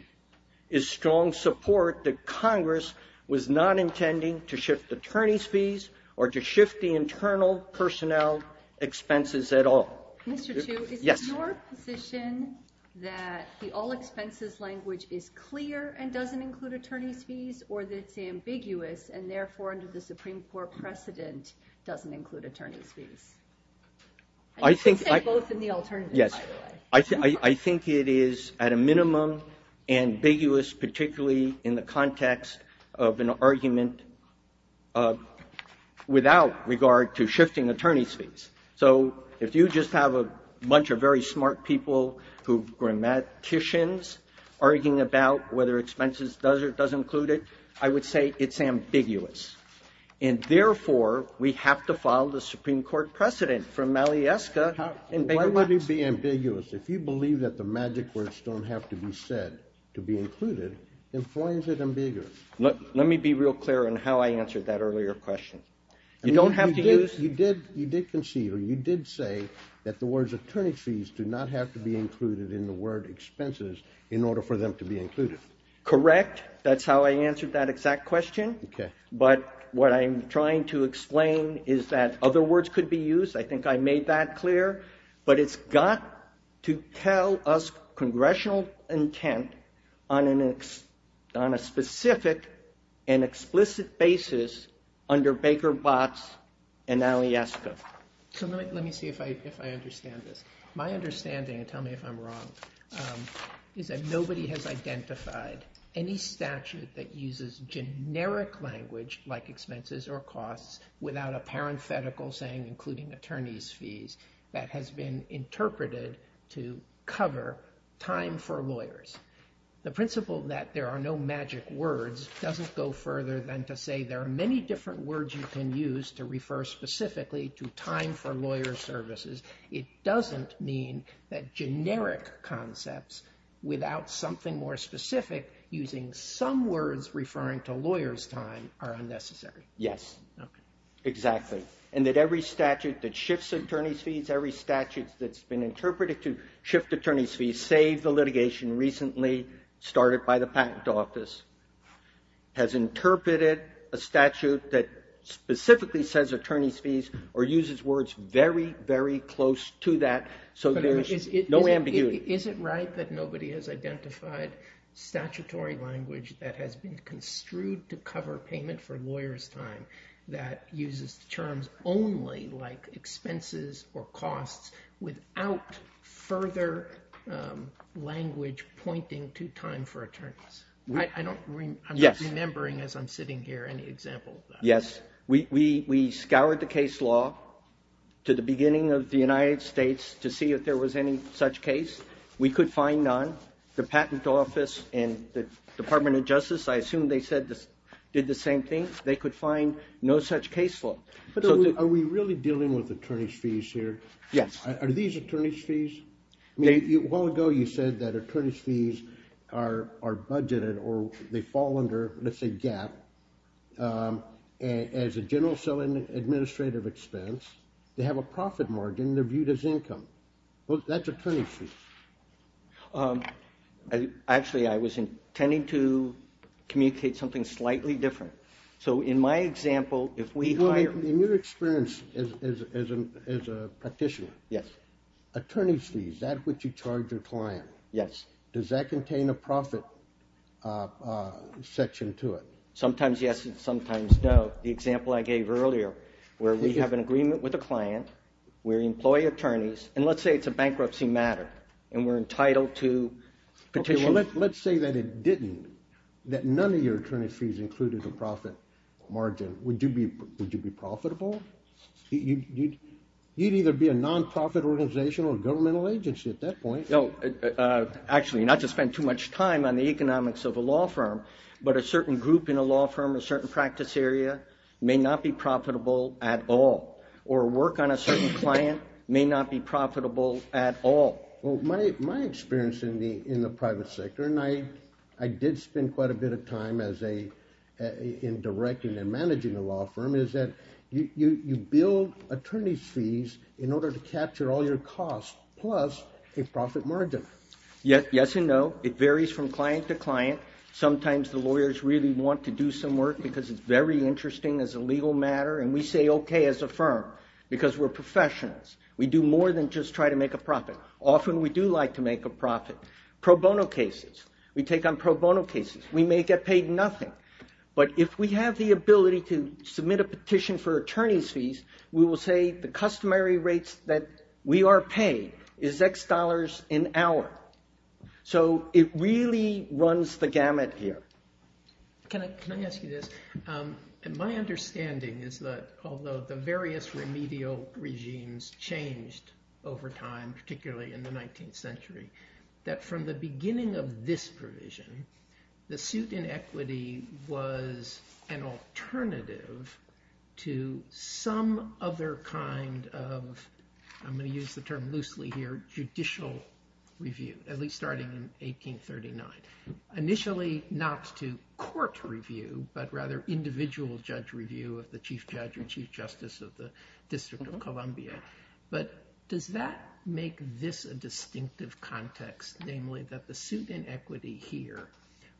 is strong support that Congress was not intending to shift attorney's fees or to shift the internal personnel expenses at all. Mr. Chu, is it your position that the all-expenses language is clear and doesn't include attorney's fees, or that it's ambiguous and therefore, under the Supreme Court precedent, doesn't include attorney's fees? You can say both and the alternative, by the way. I think it is, at a minimum, ambiguous, particularly in the context of an argument without regard to shifting attorney's fees. So if you just have a bunch of very smart people who are grammaticians arguing about whether expenses does include it, I would say it's ambiguous. And therefore, we have to follow the Supreme Court precedent from Malieska in Baker v. Jackson. Why would it be ambiguous? If you believe that the magic words don't have to be said to be included, then why is it ambiguous? Let me be real clear on how I answered that earlier question. You don't have to use... You did concede, or you did say, that the words attorney's fees do not have to be included in the word expenses in order for them to be included. Correct. That's how I answered that exact question. Okay. But what I'm trying to explain is that other words could be used. I think I made that clear. But it's got to tell us congressional intent on a specific and explicit basis under Baker, Watts, and Malieska. So let me see if I understand this. My understanding, and tell me if I'm wrong, is that nobody has identified any statute that uses generic language like expenses or costs without a parenthetical saying including attorney's fees that has been interpreted to cover time for lawyers. The principle that there are no magic words doesn't go further than to say there are many different words you can use to refer specifically to time for lawyer services. It doesn't mean that generic concepts without something more specific using some words referring to lawyer's time are unnecessary. Yes. Okay. Exactly. And that every statute that shifts attorney's fees, every statute that's been interpreted to shift attorney's fees, to save the litigation recently started by the patent office, has interpreted a statute that specifically says attorney's fees or uses words very, very close to that so there's no ambiguity. Is it right that nobody has identified statutory language that has been construed to cover payment for lawyer's time that uses terms only like expenses or costs without further language pointing to time for attorneys? I'm not remembering as I'm sitting here any example of that. Yes. We scoured the case law to the beginning of the United States to see if there was any such case. We could find none. The patent office and the Department of Justice, I assume they did the same thing. They could find no such case law. But are we really dealing with attorney's fees here? Yes. Are these attorney's fees? A while ago you said that attorney's fees are budgeted or they fall under, let's say GAAP, as a general selling administrative expense. They have a profit margin. They're viewed as income. That's attorney's fees. Actually, I was intending to communicate something slightly different. So in my example, if we hire... Petitioner. Yes. Attorney's fees, that which you charge your client. Yes. Does that contain a profit section to it? Sometimes yes and sometimes no. The example I gave earlier, where we have an agreement with a client, we employ attorneys, and let's say it's a bankruptcy matter and we're entitled to... Let's say that it didn't, that none of your attorney's fees included a profit margin. Would you be profitable? You'd either be a non-profit organization or a governmental agency at that point. Actually, not to spend too much time on the economics of a law firm, but a certain group in a law firm, a certain practice area, may not be profitable at all. Or work on a certain client may not be profitable at all. Well, my experience in the private sector, and I did spend quite a bit of time in directing and managing a law firm, is that you build attorney's fees in order to capture all your costs plus a profit margin. Yes and no. It varies from client to client. Sometimes the lawyers really want to do some work because it's very interesting as a legal matter, and we say okay as a firm because we're professionals. We do more than just try to make a profit. Often we do like to make a profit. Pro bono cases. We take on pro bono cases. We may get paid nothing, but if we have the ability to submit a petition for attorney's fees, we will say the customary rates that we are paid is X dollars an hour. So it really runs the gamut here. Can I ask you this? My understanding is that although the various remedial regimes changed over time, particularly in the 19th century, that from the beginning of this provision, the suit in equity was an alternative to some other kind of, I'm going to use the term loosely here, judicial review, at least starting in 1839. Initially not to court review, but rather individual judge review of the chief judge or chief justice of the District of Columbia. But does that make this a distinctive context, namely that the suit in equity here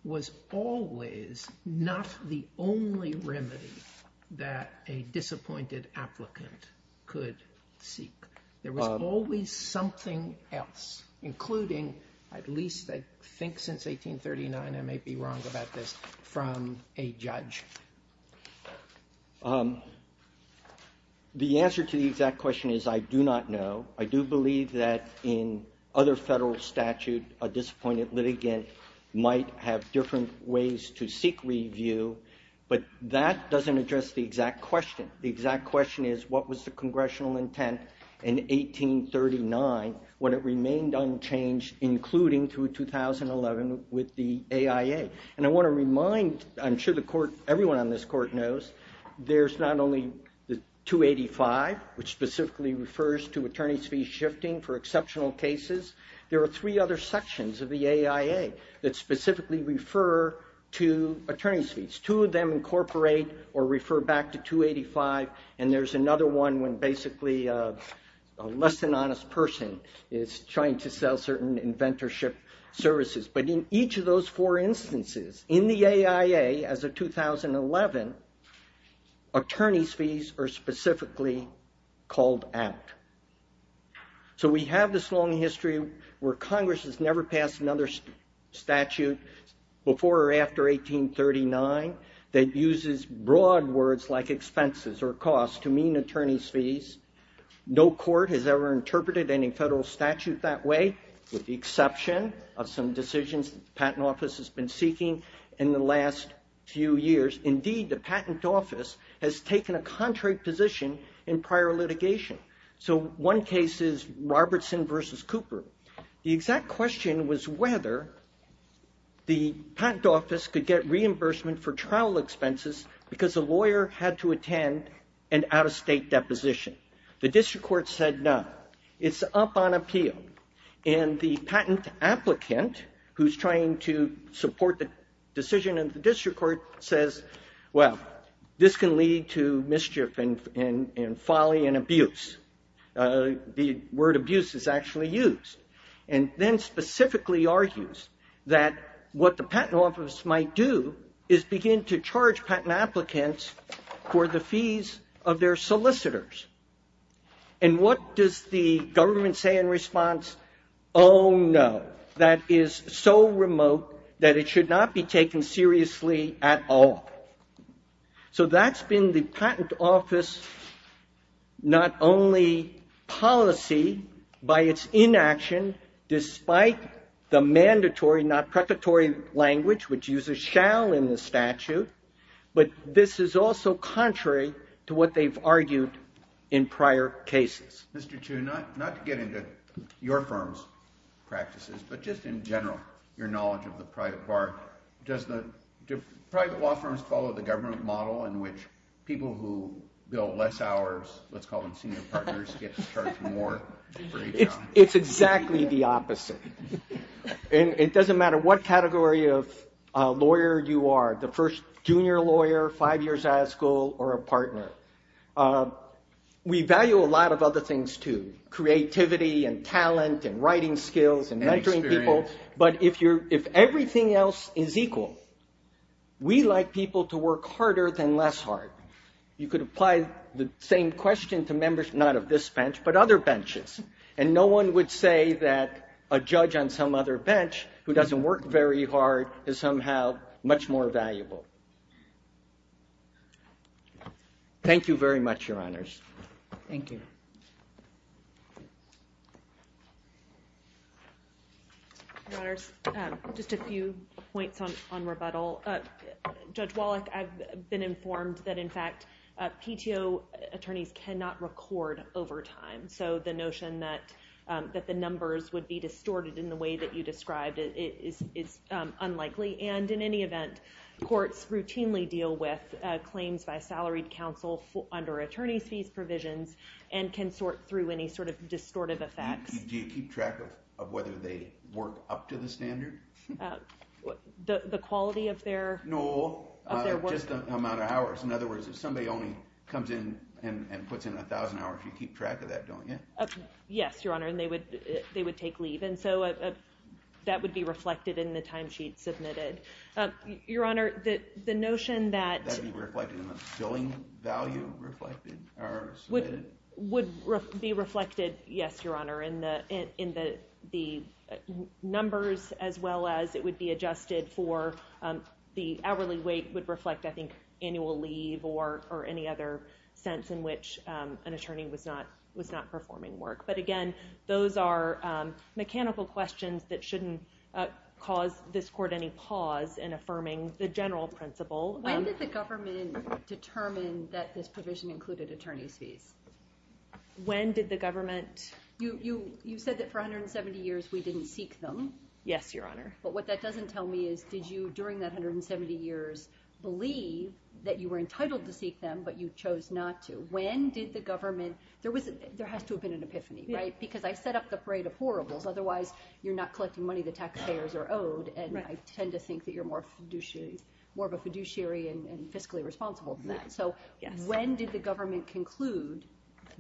was always not the only remedy that a disappointed applicant could seek. There was always something else, including, at least I think since 1839, I may be wrong about this, from a judge. The answer to the exact question is I do not know. I do believe that in other federal statute a disappointed litigant might have different ways to seek review, but that doesn't address the exact question. The exact question is what was the congressional intent in 1839 when it remained unchanged, including through 2011 with the AIA. And I want to remind, I'm sure everyone on this court knows, there's not only the 285, which specifically refers to attorney's fees shifting for exceptional cases. There are three other sections of the AIA that specifically refer to attorney's fees. Two of them incorporate or refer back to 285, and there's another one when basically a less than honest person is trying to sell certain inventorship services. But in each of those four instances, in the AIA as of 2011, attorney's fees are specifically called out. So we have this long history where Congress has never passed another statute before or after 1839 that uses broad words like expenses or costs to mean attorney's fees. No court has ever interpreted any federal statute that way, with the exception of some decisions that the Patent Office has been seeking in the last few years. Indeed, the Patent Office has taken a contrary position in prior litigation. So one case is Robertson v. Cooper. The exact question was whether the Patent Office could get reimbursement for trial expenses because a lawyer had to attend an out-of-state deposition. The district court said no. It's up on appeal. And the patent applicant, who's trying to support the decision of the district court, says, well, this can lead to mischief and folly and abuse. The word abuse is actually used. And then specifically argues that what the Patent Office might do is begin to charge patent applicants for the fees of their solicitors. And what does the government say in response? Oh, no. That is so remote that it should not be taken seriously at all. So that's been the Patent Office's not only policy by its inaction, despite the mandatory, not preparatory language, which uses shall in the statute, but this is also contrary to what they've argued in prior cases. Mr. Chu, not to get into your firm's practices, but just in general, your knowledge of the private bar, do private law firms follow the government model in which people who bill less hours, let's call them senior partners, get charged more for each hour? It's exactly the opposite. And it doesn't matter what category of lawyer you are, the first junior lawyer, five years out of school, or a partner. We value a lot of other things, too. Creativity and talent and writing skills and mentoring people. But if everything else is equal, we like people to work harder than less hard. You could apply the same question to members, not of this bench, but other benches, and no one would say that a judge on some other bench who doesn't work very hard is somehow much more valuable. Thank you very much, Your Honors. Thank you. Your Honors, just a few points on rebuttal. Judge Wallach, I've been informed that, in fact, PTO attorneys cannot record over time. So the notion that the numbers would be distorted in the way that you described is unlikely. And in any event, courts routinely deal with claims by a salaried counsel under attorney's fees provisions and can sort through any sort of distortive effects. Do you keep track of whether they work up to the standard? The quality of their work? No, just the amount of hours. In other words, if somebody only comes in and puts in 1,000 hours, you keep track of that, don't you? Yes, Your Honor, and they would take leave. And so that would be reflected in the timesheet submitted. Your Honor, the notion that... Would be reflected in the billing value submitted? Would be reflected, yes, Your Honor, in the numbers, as well as it would be adjusted for the hourly wait would reflect, I think, annual leave or any other sense in which an attorney was not performing work. But again, those are mechanical questions that shouldn't cause this court any pause in affirming the general principle. When did the government determine that this provision included attorney's fees? When did the government...? You said that for 170 years we didn't seek them. Yes, Your Honor. But what that doesn't tell me is, did you, during that 170 years, believe that you were entitled to seek them but you chose not to? When did the government...? There has to have been an epiphany, right? Because I set up the parade of horribles. Otherwise, you're not collecting money the taxpayers are owed, and I tend to think that you're more of a fiduciary and fiscally responsible than that. So when did the government conclude...?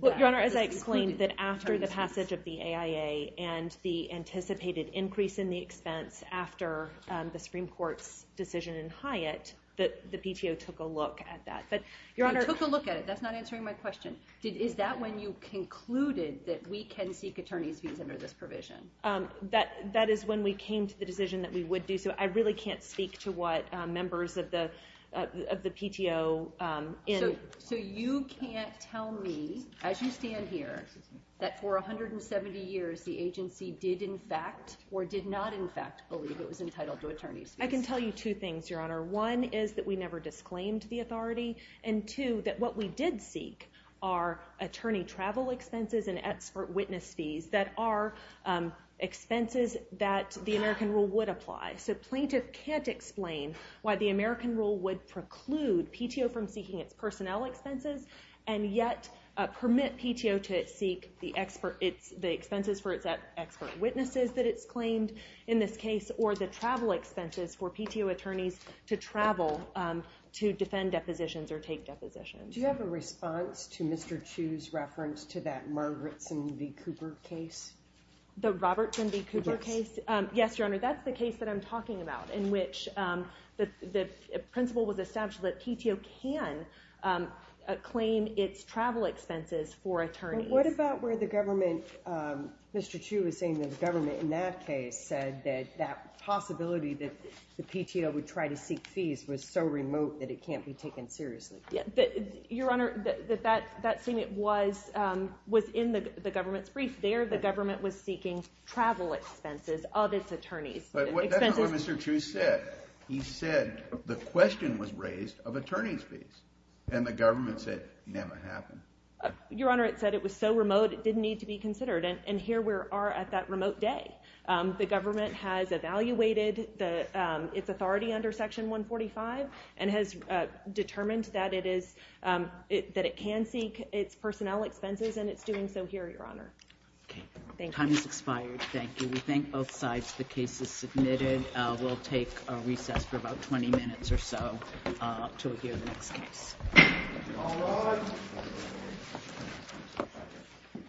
Your Honor, as I explained, that after the passage of the AIA and the anticipated increase in the expense after the Supreme Court's decision in Hyatt, the PTO took a look at that. They took a look at it. That's not answering my question. Is that when you concluded that we can seek attorney's fees under this provision? That is when we came to the decision that we would do so. I really can't speak to what members of the PTO... So you can't tell me, as you stand here, that for 170 years the agency did in fact or did not in fact believe it was entitled to attorney's fees? I can tell you two things, Your Honor. One is that we never disclaimed the authority, and two, that what we did seek are attorney travel expenses and expert witness fees that are expenses that the American rule would apply. So plaintiff can't explain why the American rule would preclude PTO from seeking its personnel expenses and yet permit PTO to seek the expenses for its expert witnesses that it's claimed in this case or the travel expenses for PTO attorneys to travel to defend depositions or take depositions. Do you have a response to Mr. Chu's reference to that Margretson v. Cooper case? The Robertson v. Cooper case? Yes, Your Honor, that's the case that I'm talking about in which the principle was established that PTO can claim its travel expenses for attorneys. What about where the government... Mr. Chu was saying that the government in that case said that that possibility that the PTO would try to seek fees was so remote that it can't be taken seriously. Your Honor, that statement was in the government's brief. There the government was seeking travel expenses of its attorneys. But that's not what Mr. Chu said. He said the question was raised of attorney's fees and the government said it never happened. Your Honor, it said it was so remote it didn't need to be considered and here we are at that remote day. The government has evaluated its authority under Section 145 and has determined that it can seek its personnel expenses and it's doing so here, Your Honor. Okay. Time has expired. Thank you. We thank both sides. The case is submitted. We'll take a recess for about 20 minutes or so to hear the next case. All rise.